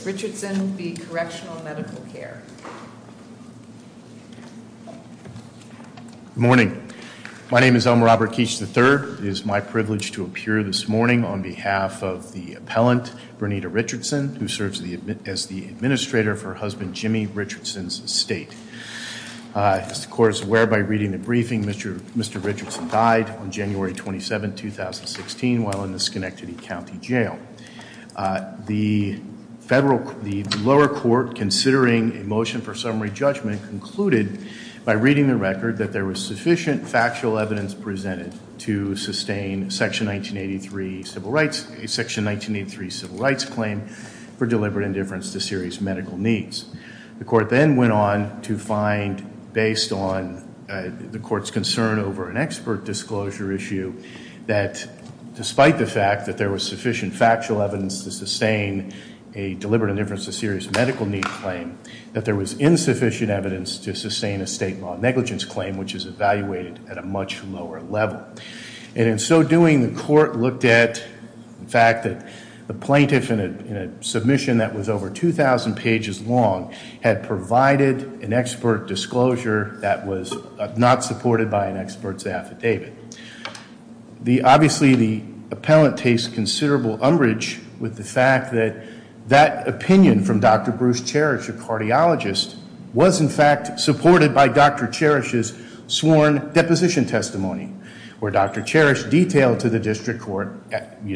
Mr. Richardson v. Correctional Medical Care. Good morning. My name is Elmer Robert Keech III. It is my privilege to appear this morning on behalf of the appellant, Bernita Richardson, who serves as the administrator for her husband, Jimmy Richardson's estate. As the court is aware by reading the briefing, Mr. Richardson died on January 27th, 2016 while in the Schenectady County Jail. The lower court, considering a motion for summary judgment, concluded by reading the record that there was sufficient factual evidence presented to sustain Section 1983 Civil Rights Claim for deliberate indifference to serious medical needs. The court then went on to find, based on the court's concern over an expert disclosure issue, that despite the fact that there was sufficient factual evidence to sustain a deliberate indifference to serious medical need claim, that there was insufficient evidence to sustain a state law negligence claim, which is evaluated at a much lower level. And in so doing, the court looked at the fact that the plaintiff in a submission that was over 2,000 pages long had provided an expert disclosure that was not supported by an expert's affidavit. Obviously, the appellant takes considerable umbrage with the fact that that opinion from Dr. Bruce Cherish, a cardiologist, was in fact supported by Dr. Cherish's sworn deposition testimony, where Dr. Cherish detailed to the district court,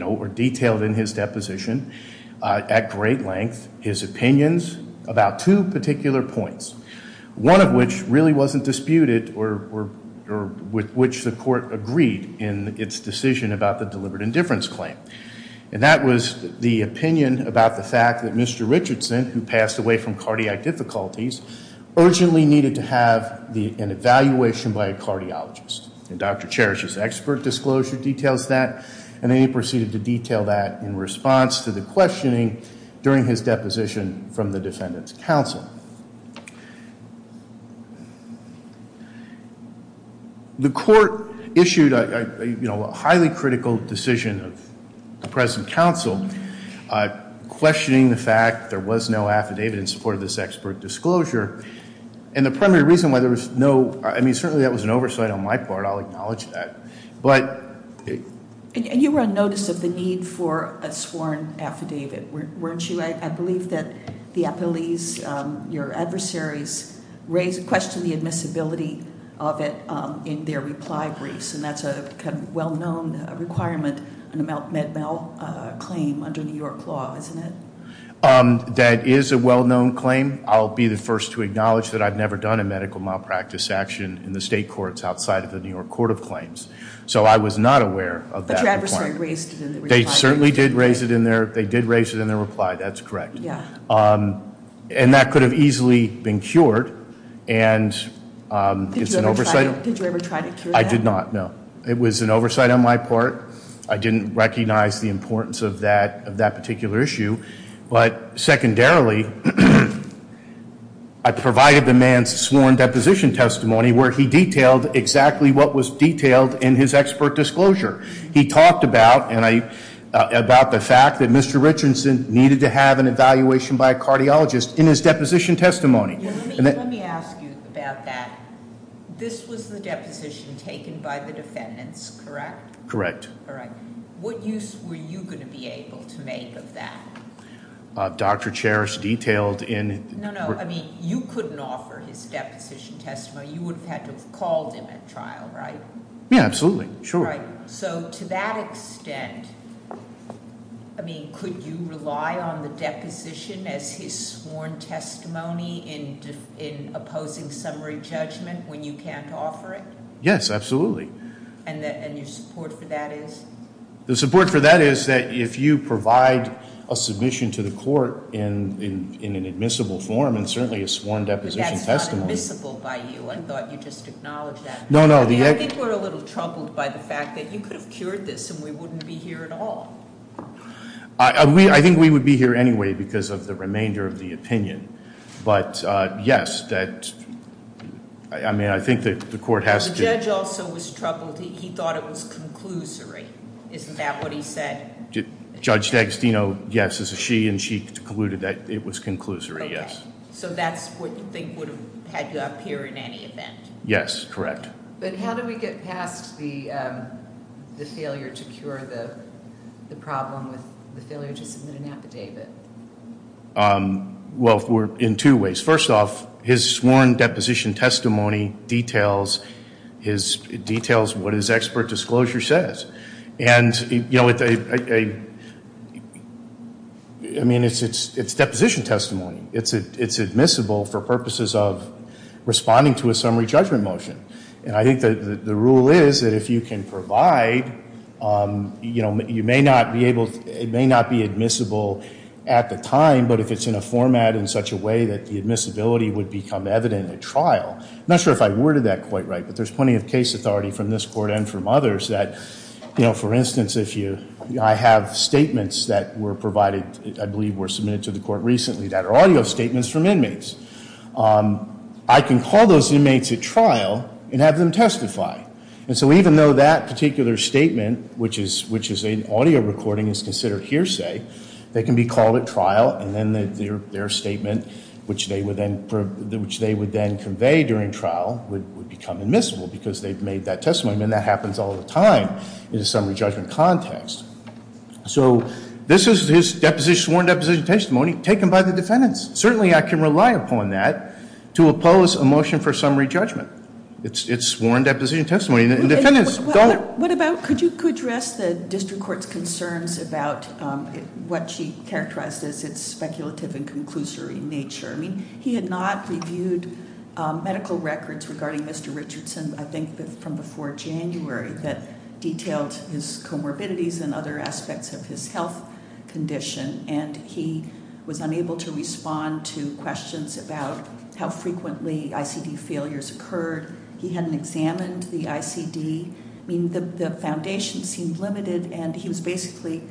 or detailed in his deposition, at great length, his opinions about two particular points. One of which really wasn't disputed, or with which the court agreed in its decision about the deliberate indifference claim. And that was the opinion about the fact that Mr. Richardson, who passed away from cardiac difficulties, urgently needed to have an evaluation by a cardiologist. And Dr. Cherish's expert disclosure details that, and then he proceeded to detail that in response to the questioning, during his deposition from the defendant's counsel. The court issued a highly critical decision of the present counsel, questioning the fact there was no affidavit in support of this expert disclosure. And the primary reason why there was no, I mean, certainly that was an oversight on my part, I'll acknowledge that. But- And you were on notice of the need for a sworn affidavit, weren't you? I believe that the appellees, your adversaries, question the admissibility of it in their reply briefs. And that's a kind of well-known requirement in a Med-Mal claim under New York law, isn't it? That is a well-known claim. I'll be the first to acknowledge that I've never done a medical malpractice action in the state courts outside of the New York Court of Claims. So I was not aware of that. But your adversary raised it in their reply. They certainly did raise it in their, they did raise it in their reply, that's correct. Yeah. And that could have easily been cured, and it's an oversight. Did you ever try to cure that? I did not, no. It was an oversight on my part. I didn't recognize the importance of that particular issue. But secondarily, I provided the man's sworn deposition testimony, where he detailed exactly what was detailed in his expert disclosure. He talked about the fact that Mr. Richardson needed to have an evaluation by a cardiologist in his deposition testimony. Let me ask you about that. This was the deposition taken by the defendants, correct? Correct. All right. What use were you going to be able to make of that? Dr. Cherish detailed in- No, no, I mean, you couldn't offer his deposition testimony. You would have had to have called him at trial, right? Yeah, absolutely, sure. Right, so to that extent, I mean, could you rely on the deposition as his sworn testimony in opposing summary judgment when you can't offer it? Yes, absolutely. And your support for that is? The support for that is that if you provide a submission to the court in an admissible form, and certainly a sworn deposition testimony- But that's not admissible by you. I thought you just acknowledged that. No, no, the- I think we're a little troubled by the fact that you could have cured this and we wouldn't be here at all. I think we would be here anyway because of the remainder of the opinion. But yes, that, I mean, I think that the court has to- Well, he thought it was conclusory. Isn't that what he said? Judge D'Agostino, yes, she concluded that it was conclusory, yes. So that's what you think would have had to appear in any event? Yes, correct. But how do we get past the failure to cure the problem with the failure to submit an affidavit? Well, in two ways. First off, his sworn deposition testimony details what his expert disclosure says. And I mean, it's deposition testimony. It's admissible for purposes of responding to a summary judgment motion. And I think that the rule is that if you can provide, it may not be admissible at the time, but if it's in a format in such a way that the admissibility would become evident at trial. I'm not sure if I worded that quite right, but there's plenty of case authority from this court and from others that, for instance, if I have statements that were provided, I believe were submitted to the court recently that are audio statements from inmates. I can call those inmates at trial and have them testify. And so even though that particular statement, which is an audio recording, is considered hearsay, they can be called at trial, and then their statement, which they would then convey during trial, would become admissible because they've made that testimony, and that happens all the time in a summary judgment context. So this is his sworn deposition testimony taken by the defendants. Certainly, I can rely upon that to oppose a motion for summary judgment. It's sworn deposition testimony, and the defendants don't- Could you address the district court's concerns about what she characterized as its speculative and conclusory nature? I mean, he had not reviewed medical records regarding Mr. Richardson, I think from before January, that detailed his comorbidities and other aspects of his health condition, and he was unable to respond to questions about how frequently ICD failures occurred. He hadn't examined the ICD. I mean, the foundation seemed limited, and he was basically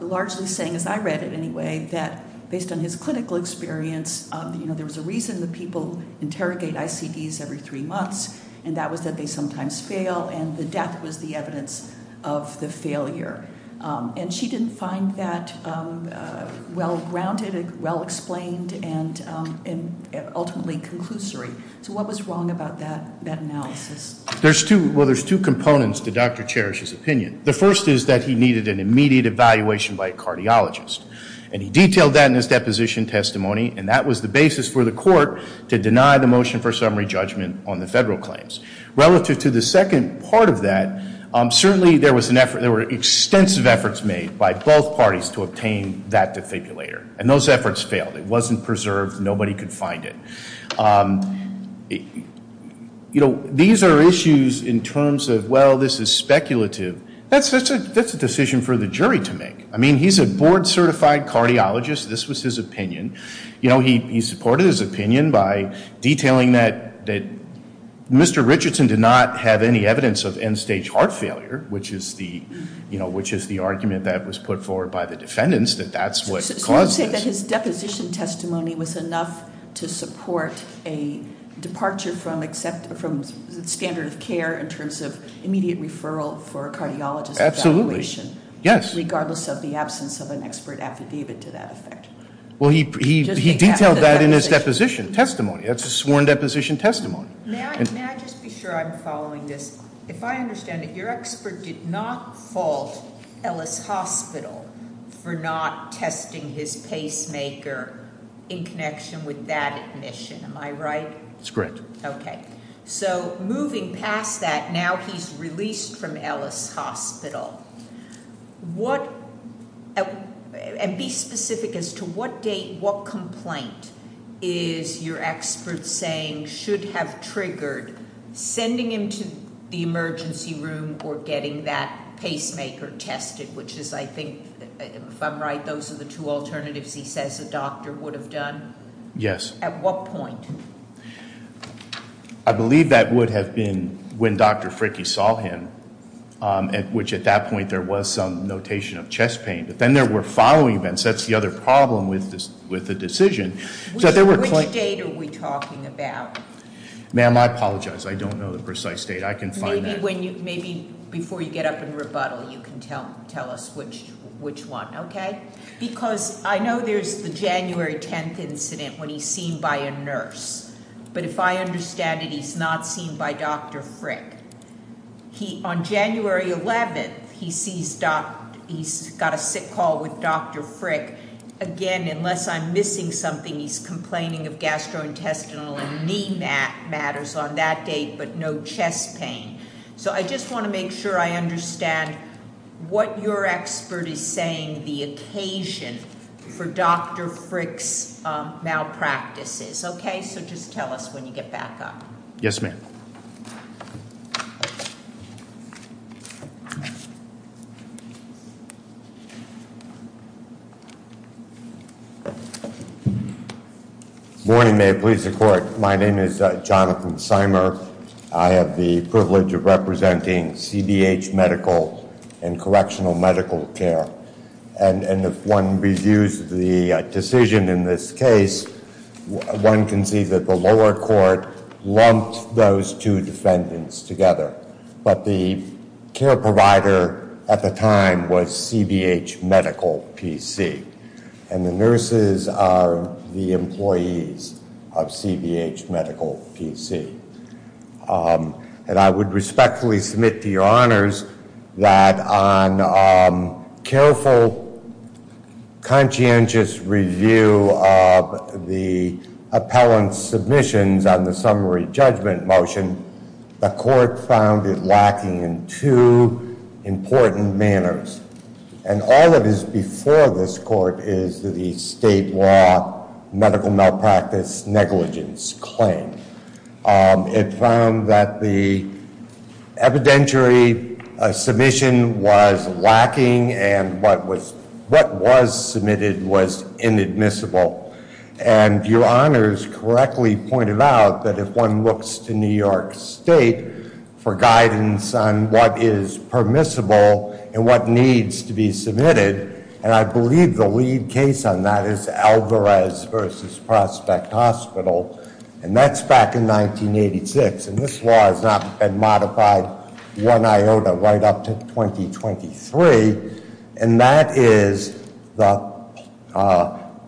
largely saying, as I read it anyway, that based on his clinical experience, there was a reason that people interrogate ICDs every three months. And that was that they sometimes fail, and the death was the evidence of the failure. And she didn't find that well-grounded, well-explained, and ultimately conclusory. So what was wrong about that analysis? There's two, well, there's two components to Dr. Cherish's opinion. The first is that he needed an immediate evaluation by a cardiologist. And he detailed that in his deposition testimony, and that was the basis for the court to deny the motion for summary judgment on the federal claims. Relative to the second part of that, certainly there were extensive efforts made by both parties to obtain that defibrillator. And those efforts failed. It wasn't preserved. Nobody could find it. These are issues in terms of, well, this is speculative. That's a decision for the jury to make. I mean, he's a board certified cardiologist. This was his opinion. He supported his opinion by detailing that Mr. Richardson did not have any evidence of end stage heart failure, which is the argument that was put forward by the defendants, that that's what caused this. So you're saying that his deposition testimony was enough to support a departure from standard of care in terms of immediate referral for cardiologist evaluation. Yes. Regardless of the absence of an expert affidavit to that effect. Well, he detailed that in his deposition testimony. That's a sworn deposition testimony. May I just be sure I'm following this? If I understand it, your expert did not fault Ellis Hospital for not testing his pacemaker in connection with that admission. Am I right? It's correct. Okay. So moving past that, now he's released from Ellis Hospital. What, and be specific as to what date, what complaint is your expert saying should have triggered sending him to the emergency room or getting that pacemaker tested, which is I think, if I'm right, those are the two alternatives he says a doctor would have done? Yes. At what point? I believe that would have been when Dr. Fricky saw him, which at that point there was some notation of chest pain. But then there were following events, that's the other problem with the decision. So there were- Which date are we talking about? Ma'am, I apologize. I don't know the precise date. I can find that- Maybe before you get up and rebuttal, you can tell us which one, okay? Because I know there's the January 10th incident when he's seen by a nurse. But if I understand it, he's not seen by Dr. Frick. He, on January 11th, he sees, he's got a sick call with Dr. Frick. Again, unless I'm missing something, he's complaining of gastrointestinal and knee matters on that date, but no chest pain. So I just want to make sure I understand what your expert is saying the occasion for Dr. Frick's malpractices, okay? So just tell us when you get back up. Yes, ma'am. Good morning, may it please the court. My name is Jonathan Simer. I have the privilege of representing CBH Medical and Correctional Medical Care. And if one reviews the decision in this case, one can see that the lower court lumped those two defendants together. But the care provider at the time was CBH Medical PC. And the nurses are the employees of CBH Medical PC. And I would respectfully submit to your honors that on careful, conscientious review of the appellant's submissions on the summary judgment motion. The court found it lacking in two important manners. And all that is before this court is the state law medical malpractice negligence claim. It found that the evidentiary submission was lacking and what was submitted was inadmissible. And your honors correctly pointed out that if one looks to New York State for guidance on what is permissible and what needs to be submitted. And I believe the lead case on that is Alvarez versus Prospect Hospital. And that's back in 1986, and this law has not been modified one iota right up to 2023. And that is the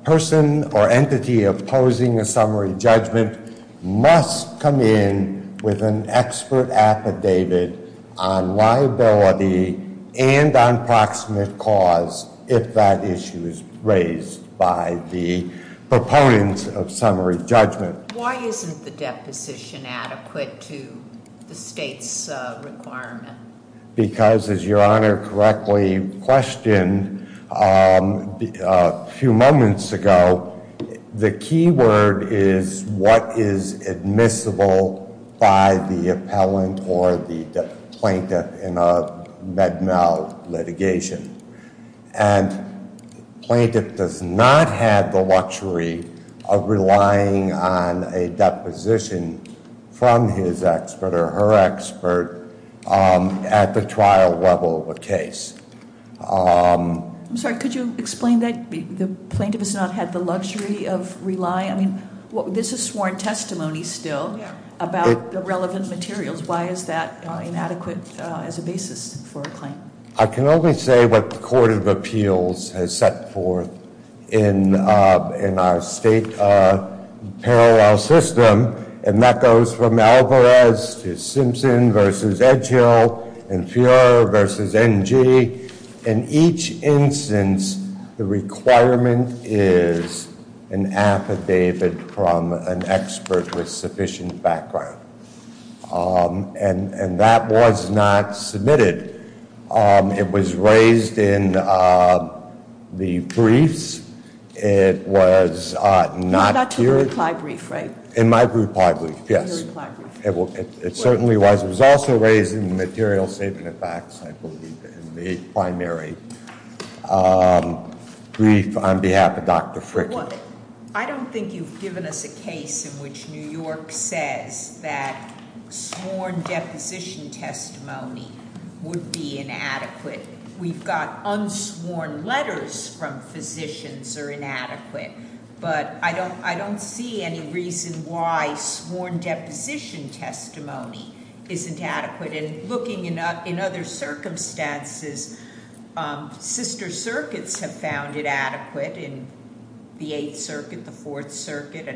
person or entity opposing a summary judgment must come in with an expert affidavit on liability and on proximate cause. If that issue is raised by the proponents of summary judgment. Why isn't the deposition adequate to the state's requirement? Because as your honor correctly questioned a few moments ago, the key word is what is admissible by the appellant or the plaintiff in a med mal litigation. And plaintiff does not have the luxury of relying on a deposition from his expert or her expert. At the trial level of a case. I'm sorry, could you explain that the plaintiff has not had the luxury of relying? I mean, this is sworn testimony still about the relevant materials. Why is that inadequate as a basis for a claim? I can only say what the Court of Appeals has set forth in our state parallel system. And that goes from Alvarez to Simpson versus Edgehill and Fuer versus NG in each instance, the requirement is an affidavit from an expert with sufficient background. And that was not submitted. It was raised in the briefs. It was not- It was not in the reply brief, right? In my reply brief, yes. In your reply brief. It certainly was. It was also raised in the material statement of facts, I believe, in the primary. Brief on behalf of Dr. Frick. I don't think you've given us a case in which New York says that sworn deposition testimony would be inadequate. We've got unsworn letters from physicians are inadequate. But I don't see any reason why sworn deposition testimony isn't adequate. And looking in other circumstances, sister circuits have found it adequate in the Eighth Circuit, the Fourth Circuit,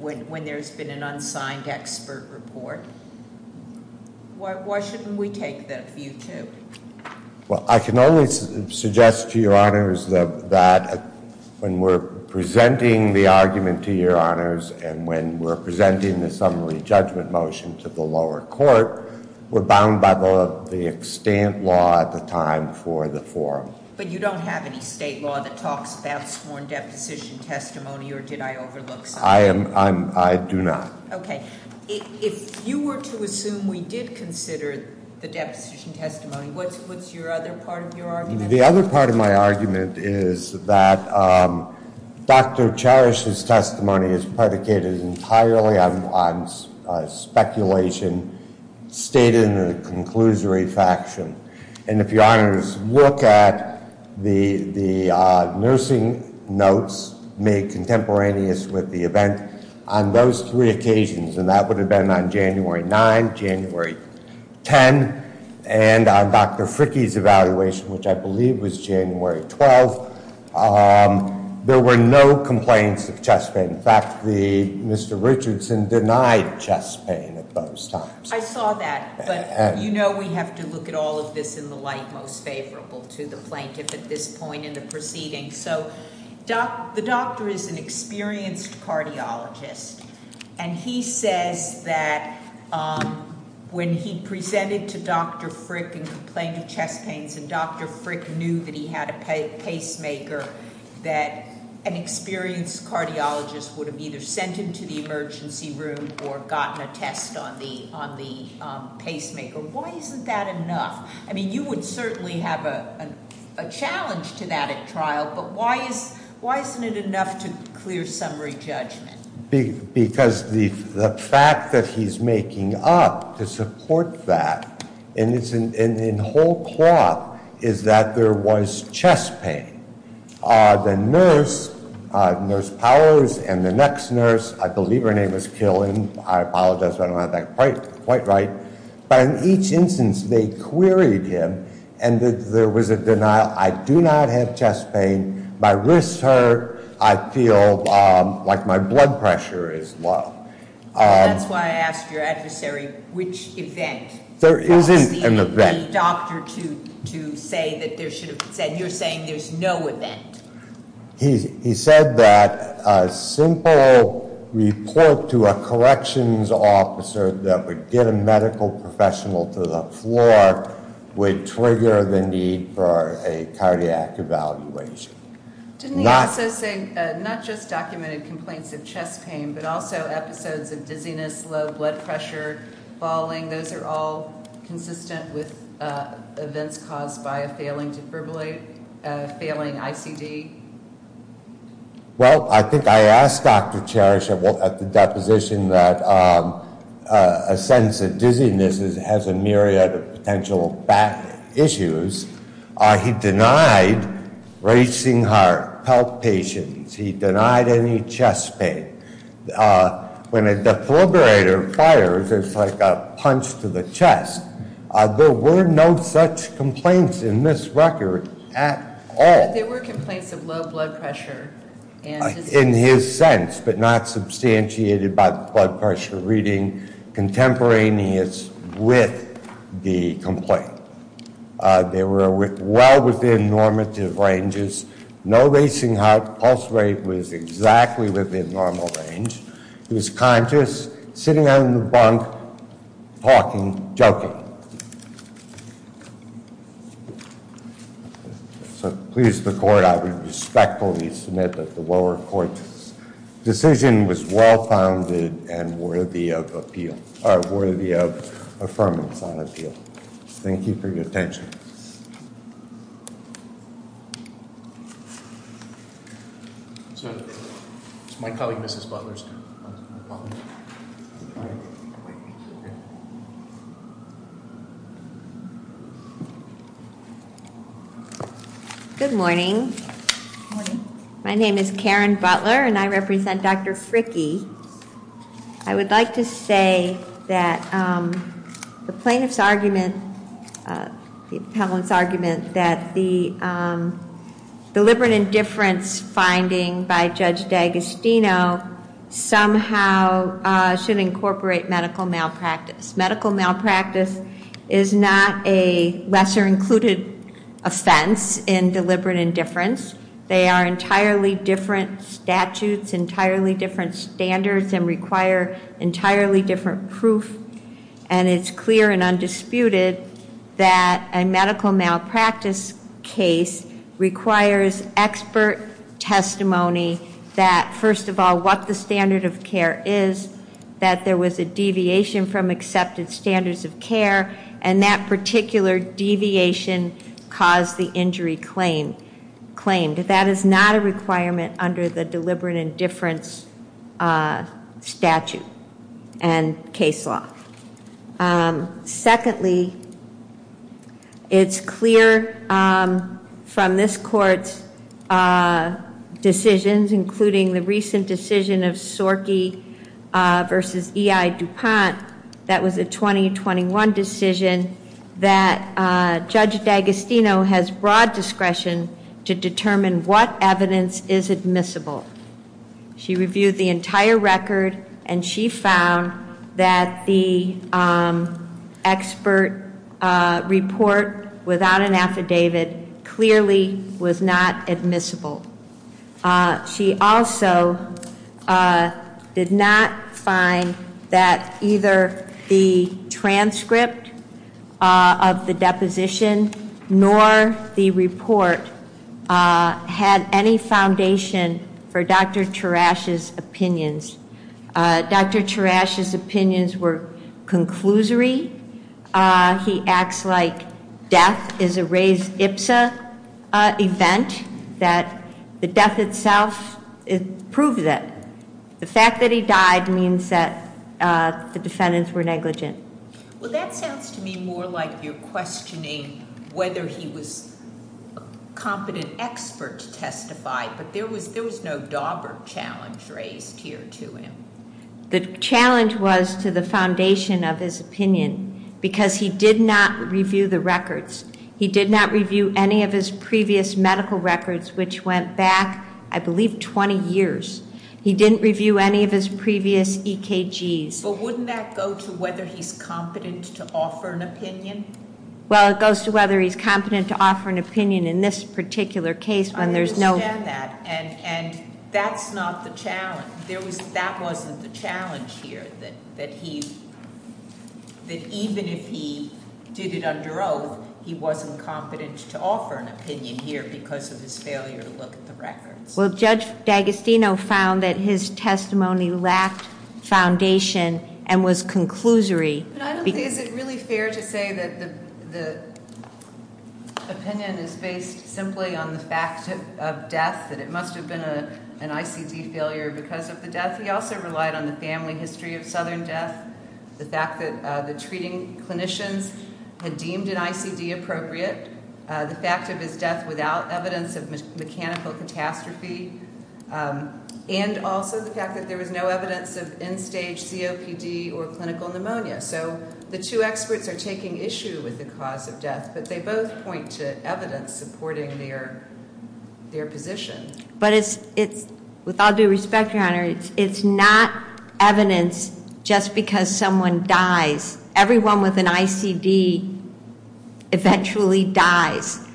when there's been an unsigned expert report. Why shouldn't we take that view too? Well, I can only suggest to your honors that when we're presenting the argument to your honors and when we're presenting the summary judgment motion to the lower court, we're bound by the extent law at the time for the forum. But you don't have any state law that talks about sworn deposition testimony or did I overlook something? I do not. Okay, if you were to assume we did consider the deposition testimony, what's your other part of your argument? The other part of my argument is that Dr. Cherish's testimony is predicated entirely on speculation, stated in the conclusory faction. And if your honors look at the nursing notes made contemporaneous with the event on those three occasions, and that would have been on January 9, January 10, and on Dr. Fricky's evaluation, which I believe was January 12. There were no complaints of chest pain. In fact, Mr. Richardson denied chest pain at those times. I saw that, but you know we have to look at all of this in the light most favorable to the plaintiff at this point in the proceeding. So the doctor is an experienced cardiologist. And he says that when he presented to Dr. Frick in complaint of chest pains, and Dr. Frick knew that he had a pacemaker, that an experienced cardiologist would have either sent him to the emergency room or gotten a test on the pacemaker, why isn't that enough? I mean, you would certainly have a challenge to that at trial, but why isn't it enough to clear summary judgment? Because the fact that he's making up to support that, and in whole cloth, is that there was chest pain. The nurse, Nurse Powers, and the next nurse, I believe her name is Killen. I apologize if I don't have that quite right. But in each instance, they queried him, and there was a denial. I do not have chest pain. My wrists hurt. I feel like my blood pressure is low. That's why I asked your adversary, which event? There isn't an event. The doctor to say that there should have been said, you're saying there's no event. He said that a simple report to a corrections officer that would get a medical professional to the floor. Would trigger the need for a cardiac evaluation. Did he also say, not just documented complaints of chest pain, but also episodes of dizziness, low blood pressure, falling. And those are all consistent with events caused by a failing ICD? Well, I think I asked Dr. Cherish at the deposition that a sense of dizziness has a myriad of potential issues. He denied racing heart, health patients. He denied any chest pain. When a defibrillator fires, it's like a punch to the chest. There were no such complaints in this record at all. There were complaints of low blood pressure. In his sense, but not substantiated by the blood pressure reading contemporaneous with the complaint. They were well within normative ranges. No racing heart, pulse rate was exactly within normal range. He was conscious, sitting on the bunk, talking, joking. So please, the court, I would respectfully submit that the lower court's decision was well-founded and worthy of appeal, or worthy of affirmance on appeal. Thank you for your attention. It's my colleague, Mrs. Butler's turn. Good morning. My name is Karen Butler, and I represent Dr. Fricke. I would like to say that the plaintiff's argument, the appellant's argument that the deliberate indifference finding by Judge D'Agostino somehow should incorporate medical malpractice. Medical malpractice is not a lesser included offense in deliberate indifference. They are entirely different statutes, entirely different standards, and require entirely different proof. And it's clear and undisputed that a medical malpractice case requires expert testimony that, first of all, what the standard of care is. That there was a deviation from accepted standards of care, and that particular deviation caused the injury claimed. That is not a requirement under the deliberate indifference statute and case law. Secondly, it's clear from this court's decisions, including the recent decision of Sorky versus EI Dupont. That was a 2021 decision that Judge D'Agostino has broad discretion to determine what evidence is admissible. She reviewed the entire record, and she found that the expert report without an affidavit clearly was not admissible. She also did not find that either the transcript of the deposition nor the report had any foundation for Dr. Tarasch's opinions. Dr. Tarasch's opinions were conclusory. He acts like death is a raised IPSA event, that the death itself proves it. The fact that he died means that the defendants were negligent. Well, that sounds to me more like you're questioning whether he was a competent expert to testify, but there was no Daubert challenge raised here to him. The challenge was to the foundation of his opinion, because he did not review the records. He did not review any of his previous medical records, which went back, I believe, 20 years. He didn't review any of his previous EKGs. But wouldn't that go to whether he's competent to offer an opinion? Well, it goes to whether he's competent to offer an opinion in this particular case when there's no- I understand that, and that's not the challenge. That wasn't the challenge here, that even if he did it under oath, he wasn't competent to offer an opinion here because of his failure to look at the records. Well, Judge D'Agostino found that his testimony lacked foundation and was conclusory. But I don't think, is it really fair to say that the opinion is based simply on the fact of death, that it must have been an ICD failure because of the death? He also relied on the family history of Southern death. The fact that the treating clinicians had deemed an ICD appropriate. The fact of his death without evidence of mechanical catastrophe. And also the fact that there was no evidence of end stage COPD or clinical pneumonia. So the two experts are taking issue with the cause of death, but they both point to evidence supporting their position. But it's, with all due respect, your honor, it's not evidence just because someone dies. Everyone with an ICD eventually dies.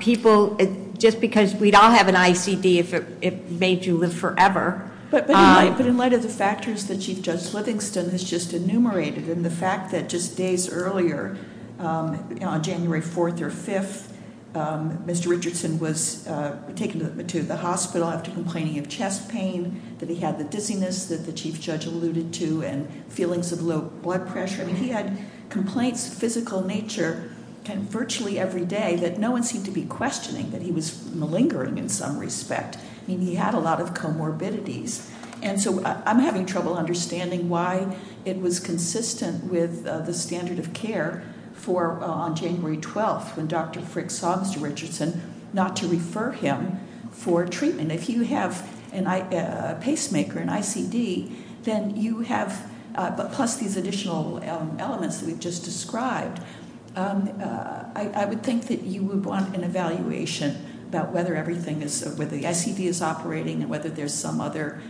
People, just because we'd all have an ICD if it made you live forever. But in light of the factors that Chief Judge Livingston has just enumerated, and the fact that just days earlier, on January 4th or 5th, Mr. Richardson was taken to the hospital after complaining of chest pain, that he had the dizziness that the Chief Judge alluded to, and feelings of low blood pressure. I mean, he had complaints, physical nature, kind of virtually every day, that no one seemed to be questioning, that he was malingering in some respect. I mean, he had a lot of comorbidities. And so I'm having trouble understanding why it was consistent with the standard of care for on January 12th, when Dr. Frick saw Mr. Richardson, not to refer him for treatment. And if you have a pacemaker, an ICD, then you have, but plus these additional elements that we've just described, I would think that you would want an evaluation about whether everything is, whether the ICD is operating, and whether there's some other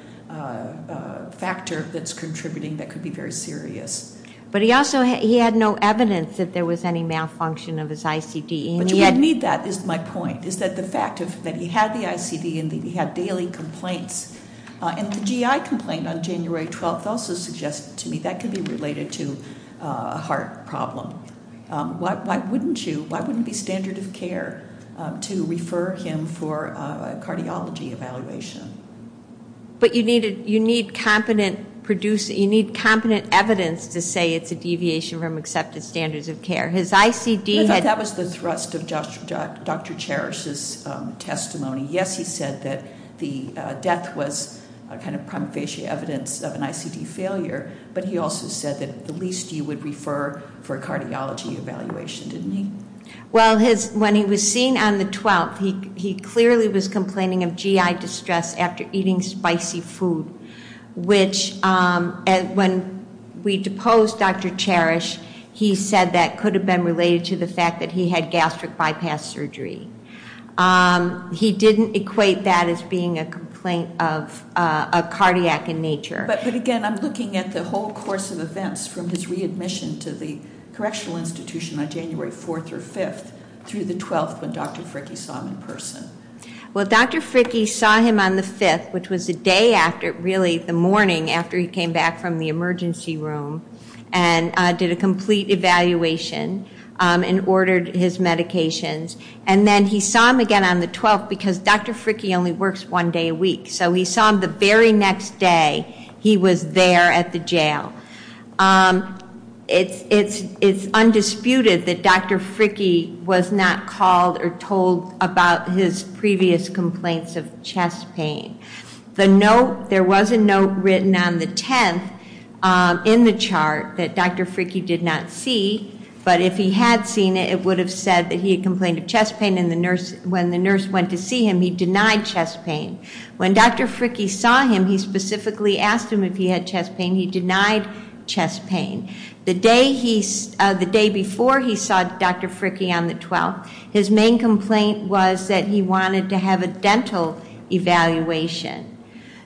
factor that's contributing that could be very serious. But he also, he had no evidence that there was any malfunction of his ICD, and he had- But you would need that, is my point, is that the fact that he had the ICD and that he had daily complaints. And the GI complaint on January 12th also suggested to me that could be related to a heart problem. Why wouldn't you, why wouldn't it be standard of care to refer him for a cardiology evaluation? But you need competent evidence to say it's a deviation from accepted standards of care. His ICD had- That was the thrust of Dr. Cherish's testimony. Yes, he said that the death was a kind of prompt facial evidence of an ICD failure, but he also said that at least you would refer for a cardiology evaluation, didn't he? Well, when he was seen on the 12th, he clearly was complaining of GI distress after eating spicy food. Which, when we deposed Dr. Cherish, he said that could have been related to the fact that he had gastric bypass surgery. He didn't equate that as being a complaint of a cardiac in nature. But again, I'm looking at the whole course of events from his readmission to the correctional institution on January 4th or 5th through the 12th when Dr. Fricky saw him in person. Well, Dr. Fricky saw him on the 5th, which was the day after, really the morning after he came back from the emergency room, and did a complete evaluation, and ordered his medications. And then he saw him again on the 12th because Dr. Fricky only works one day a week. So he saw him the very next day, he was there at the jail. It's undisputed that Dr. Fricky was not called or told about his previous complaints of chest pain. There was a note written on the 10th in the chart that Dr. Fricky did not see. But if he had seen it, it would have said that he had complained of chest pain, and when the nurse went to see him, he denied chest pain. When Dr. Fricky saw him, he specifically asked him if he had chest pain, he denied chest pain. The day before he saw Dr. Fricky on the 12th, his main complaint was that he wanted to have a dental evaluation.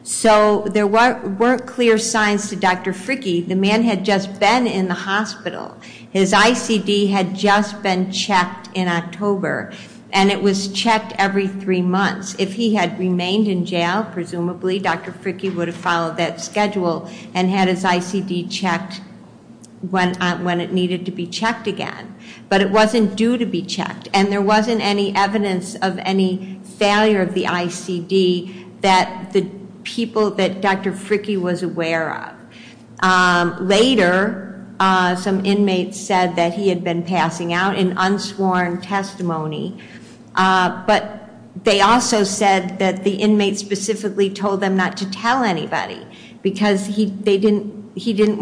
So there weren't clear signs to Dr. Fricky, the man had just been in the hospital. His ICD had just been checked in October, and it was checked every three months. If he had remained in jail, presumably, Dr. Fricky would have followed that schedule and had his ICD checked when it needed to be checked again. But it wasn't due to be checked, and there wasn't any evidence of any failure of the ICD that the people that Dr. Fricky was aware of. Later, some inmates said that he had been passing out in unsworn testimony. But they also said that the inmate specifically told them not to tell anybody, because he didn't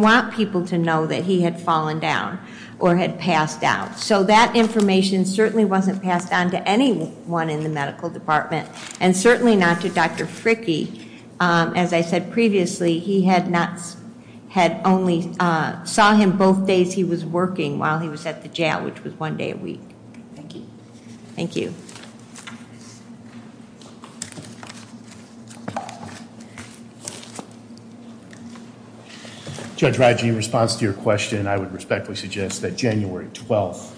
want people to know that he had fallen down or had passed out. So that information certainly wasn't passed on to anyone in the medical department, and certainly not to Dr. Fricky. As I said previously, he had only saw him both days he was working while he was at the jail, which was one day a week. Thank you. Thank you. Judge Raji, in response to your question, I would respectfully suggest that January 12th,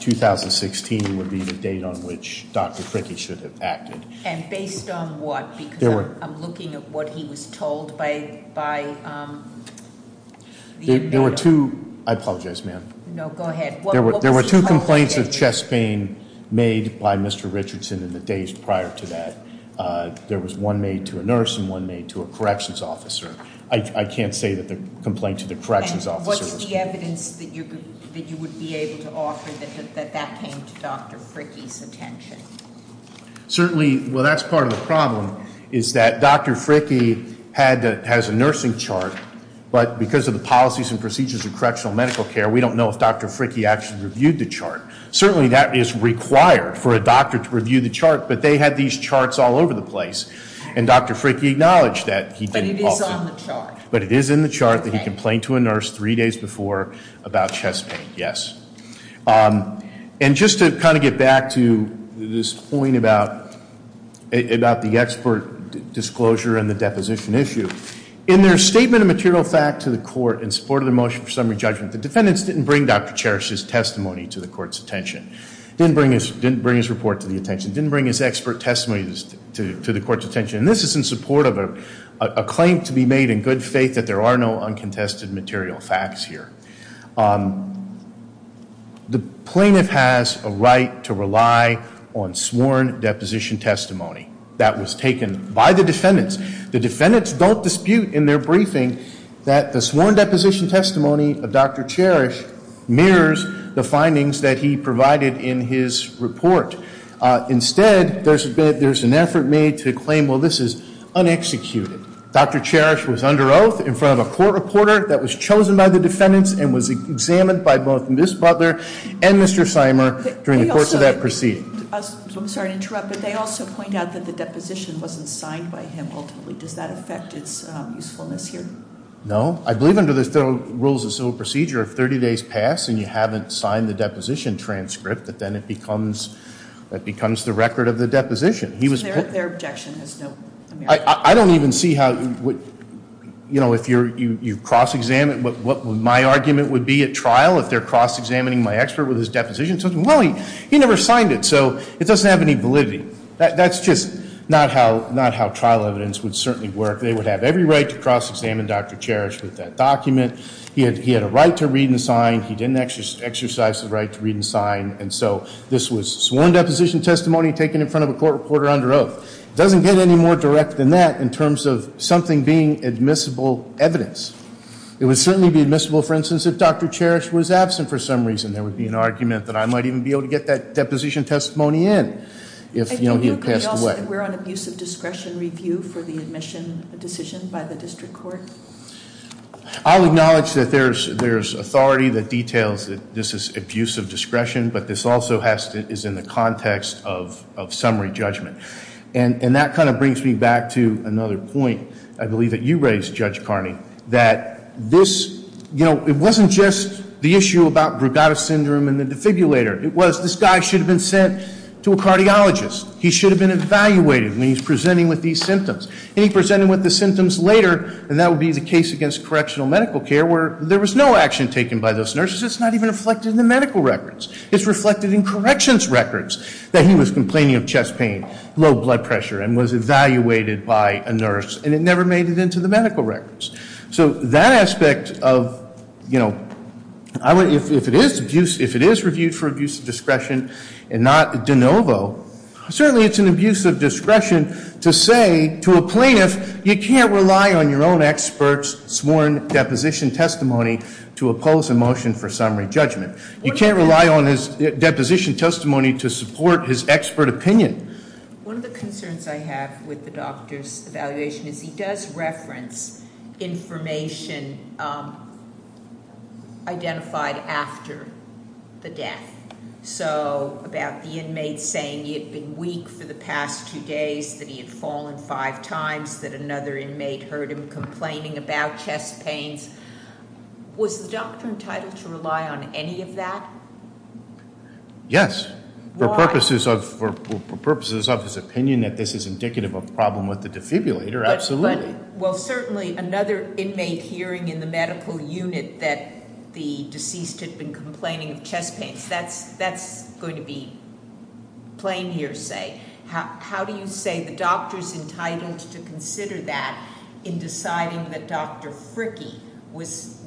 2016 would be the date on which Dr. Fricky should have acted. And based on what? I'm looking at what he was told by the inmate. There were two, I apologize, ma'am. No, go ahead. There were two complaints of chest pain made by Mr. Richardson in the days prior to that. There was one made to a nurse and one made to a corrections officer. I can't say that the complaint to the corrections officer- What's the evidence that you would be able to offer that that came to Dr. Fricky's attention? Certainly, well, that's part of the problem, is that Dr. Fricky has a nursing chart. But because of the policies and procedures of correctional medical care, we don't know if Dr. Fricky actually reviewed the chart. Certainly, that is required for a doctor to review the chart, but they had these charts all over the place. And Dr. Fricky acknowledged that he didn't- But it is on the chart. But it is in the chart that he complained to a nurse three days before about chest pain, yes. And just to kind of get back to this point about the expert disclosure and the deposition issue. In their statement of material fact to the court in support of the motion for summary judgment, the defendants didn't bring Dr. Cherish's testimony to the court's attention, didn't bring his report to the attention, didn't bring his expert testimony to the court's attention. And this is in support of a claim to be made in good faith that there are no uncontested material facts here. The plaintiff has a right to rely on sworn deposition testimony that was taken by the defendants. The defendants don't dispute in their briefing that the sworn deposition testimony of Dr. Cherish mirrors the findings that he provided in his report. Instead, there's an effort made to claim, well, this is unexecuted. Dr. Cherish was under oath in front of a court reporter that was chosen by the defendants and was examined by both Ms. Butler and Mr. Seimer during the course of that proceeding. I'm sorry to interrupt, but they also point out that the deposition wasn't signed by him ultimately. Does that affect its usefulness here? No, I believe under the rules of civil procedure, if 30 days pass and you haven't signed the deposition transcript, that then it becomes the record of the deposition. He was- Their objection has no merit. I don't even see how, if you cross-examine, what my argument would be at trial, if they're cross-examining my expert with his deposition, well, he never signed it, so it doesn't have any validity. That's just not how trial evidence would certainly work. They would have every right to cross-examine Dr. Cherish with that document. He had a right to read and sign. He didn't exercise the right to read and sign. And so, this was sworn deposition testimony taken in front of a court reporter under oath. Doesn't get any more direct than that in terms of something being admissible evidence. It would certainly be admissible, for instance, if Dr. Cherish was absent for some reason. There would be an argument that I might even be able to get that deposition testimony in if he had passed away. We're on abuse of discretion review for the admission decision by the district court. I'll acknowledge that there's authority that details that this is abuse of discretion, but this also is in the context of summary judgment. And that kind of brings me back to another point, I believe, that you raised, Judge Carney, that it wasn't just the issue about Brugada syndrome and the defibrillator. It was, this guy should have been sent to a cardiologist. He should have been evaluated when he's presenting with these symptoms. And he presented with the symptoms later, and that would be the case against correctional medical care where there was no action taken by those nurses. It's not even reflected in the medical records. It's reflected in corrections records that he was complaining of chest pain, low blood pressure, and was evaluated by a nurse, and it never made it into the medical records. So that aspect of, if it is reviewed for abuse of discretion and not de novo, certainly it's an abuse of discretion to say to a plaintiff, you can't rely on your own expert's sworn deposition testimony to oppose a motion for summary judgment. You can't rely on his deposition testimony to support his expert opinion. One of the concerns I have with the doctor's evaluation is he does reference information identified after the death. So about the inmate saying he had been weak for the past two days, that he had fallen five times, that another inmate heard him complaining about chest pains. Was the doctor entitled to rely on any of that? Yes. For purposes of his opinion that this is indicative of a problem with the defibrillator, absolutely. But, well certainly another inmate hearing in the medical unit that the deceased had been complaining of chest pains. That's going to be plain hearsay. How do you say the doctor's entitled to consider that in deciding that Dr. Fricky was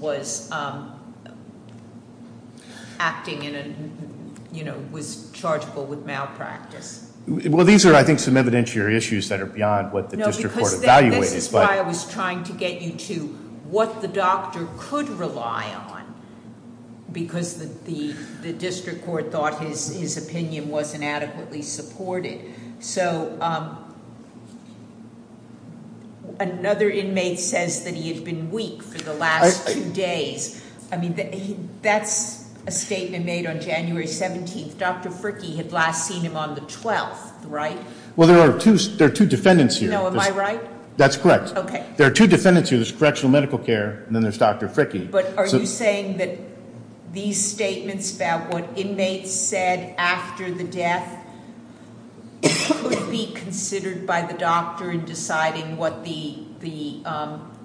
acting in a, you know, was chargeable with malpractice? Well, these are, I think, some evidentiary issues that are beyond what the district court evaluated. No, because this is why I was trying to get you to what the doctor could rely on. Because the district court thought his opinion wasn't adequately supported. So, another inmate says that he had been weak for the last two days. I mean, that's a statement made on January 17th. Dr. Fricky had last seen him on the 12th, right? Well, there are two defendants here. No, am I right? That's correct. Okay. There are two defendants here. There's correctional medical care, and then there's Dr. Fricky. But are you saying that these statements about what inmates said after the death could be considered by the doctor in deciding what the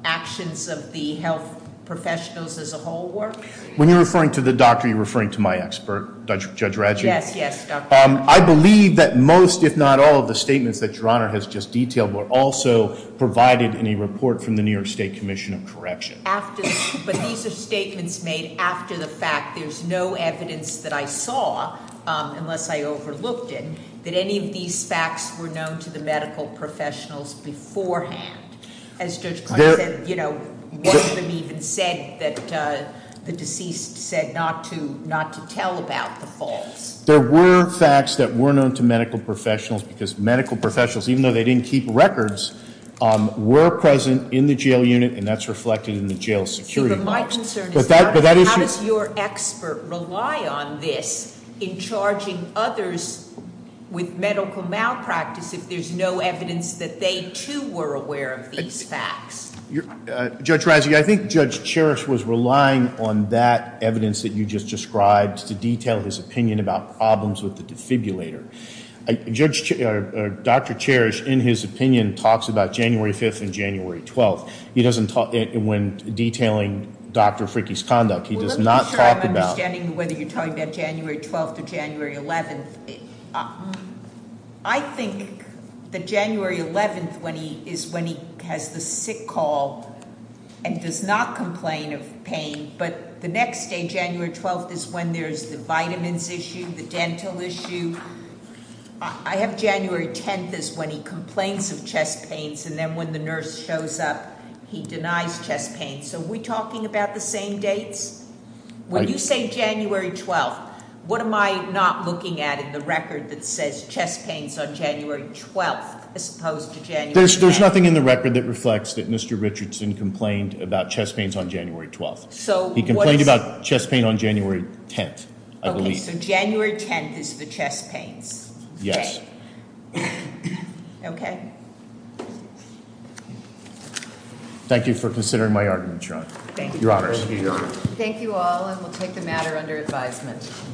actions of the health professionals as a whole were? When you're referring to the doctor, you're referring to my expert, Judge Radjic? Yes, yes, doctor. I believe that most, if not all, of the statements that Your Honor has just detailed were also provided in a report from the New York State Commission of Correction. But these are statements made after the fact. There's no evidence that I saw, unless I overlooked it, that any of these facts were known to the medical professionals beforehand. As Judge Clark said, none of them even said that the deceased said not to tell about the falls. There were facts that were known to medical professionals, because medical professionals, even though they didn't keep records, were present in the jail unit, and that's reflected in the jail security models. But my concern is how does your expert rely on this in charging others with medical malpractice if there's no evidence that they, too, were aware of these facts? Judge Radjic, I think Judge Cherish was relying on that evidence that you just described to detail his opinion about problems with the defibrillator. Dr. Cherish, in his opinion, talks about January 5th and January 12th. He doesn't talk, when detailing Dr. Fricke's conduct, he does not talk about- I think that January 11th is when he has the sick call and does not complain of pain, but the next day, January 12th, is when there's the vitamins issue, the dental issue. I have January 10th as when he complains of chest pains, and then when the nurse shows up, he denies chest pains. So we're talking about the same dates? When you say January 12th, what am I not looking at in the record that says chest pains on January 12th as opposed to January 10th? There's nothing in the record that reflects that Mr. Richardson complained about chest pains on January 12th. He complained about chest pain on January 10th, I believe. Okay, so January 10th is the chest pains date. Yes. Thank you for considering my argument, Your Honor. Thank you, Your Honor. Thank you all, and we'll take the matter under advisement.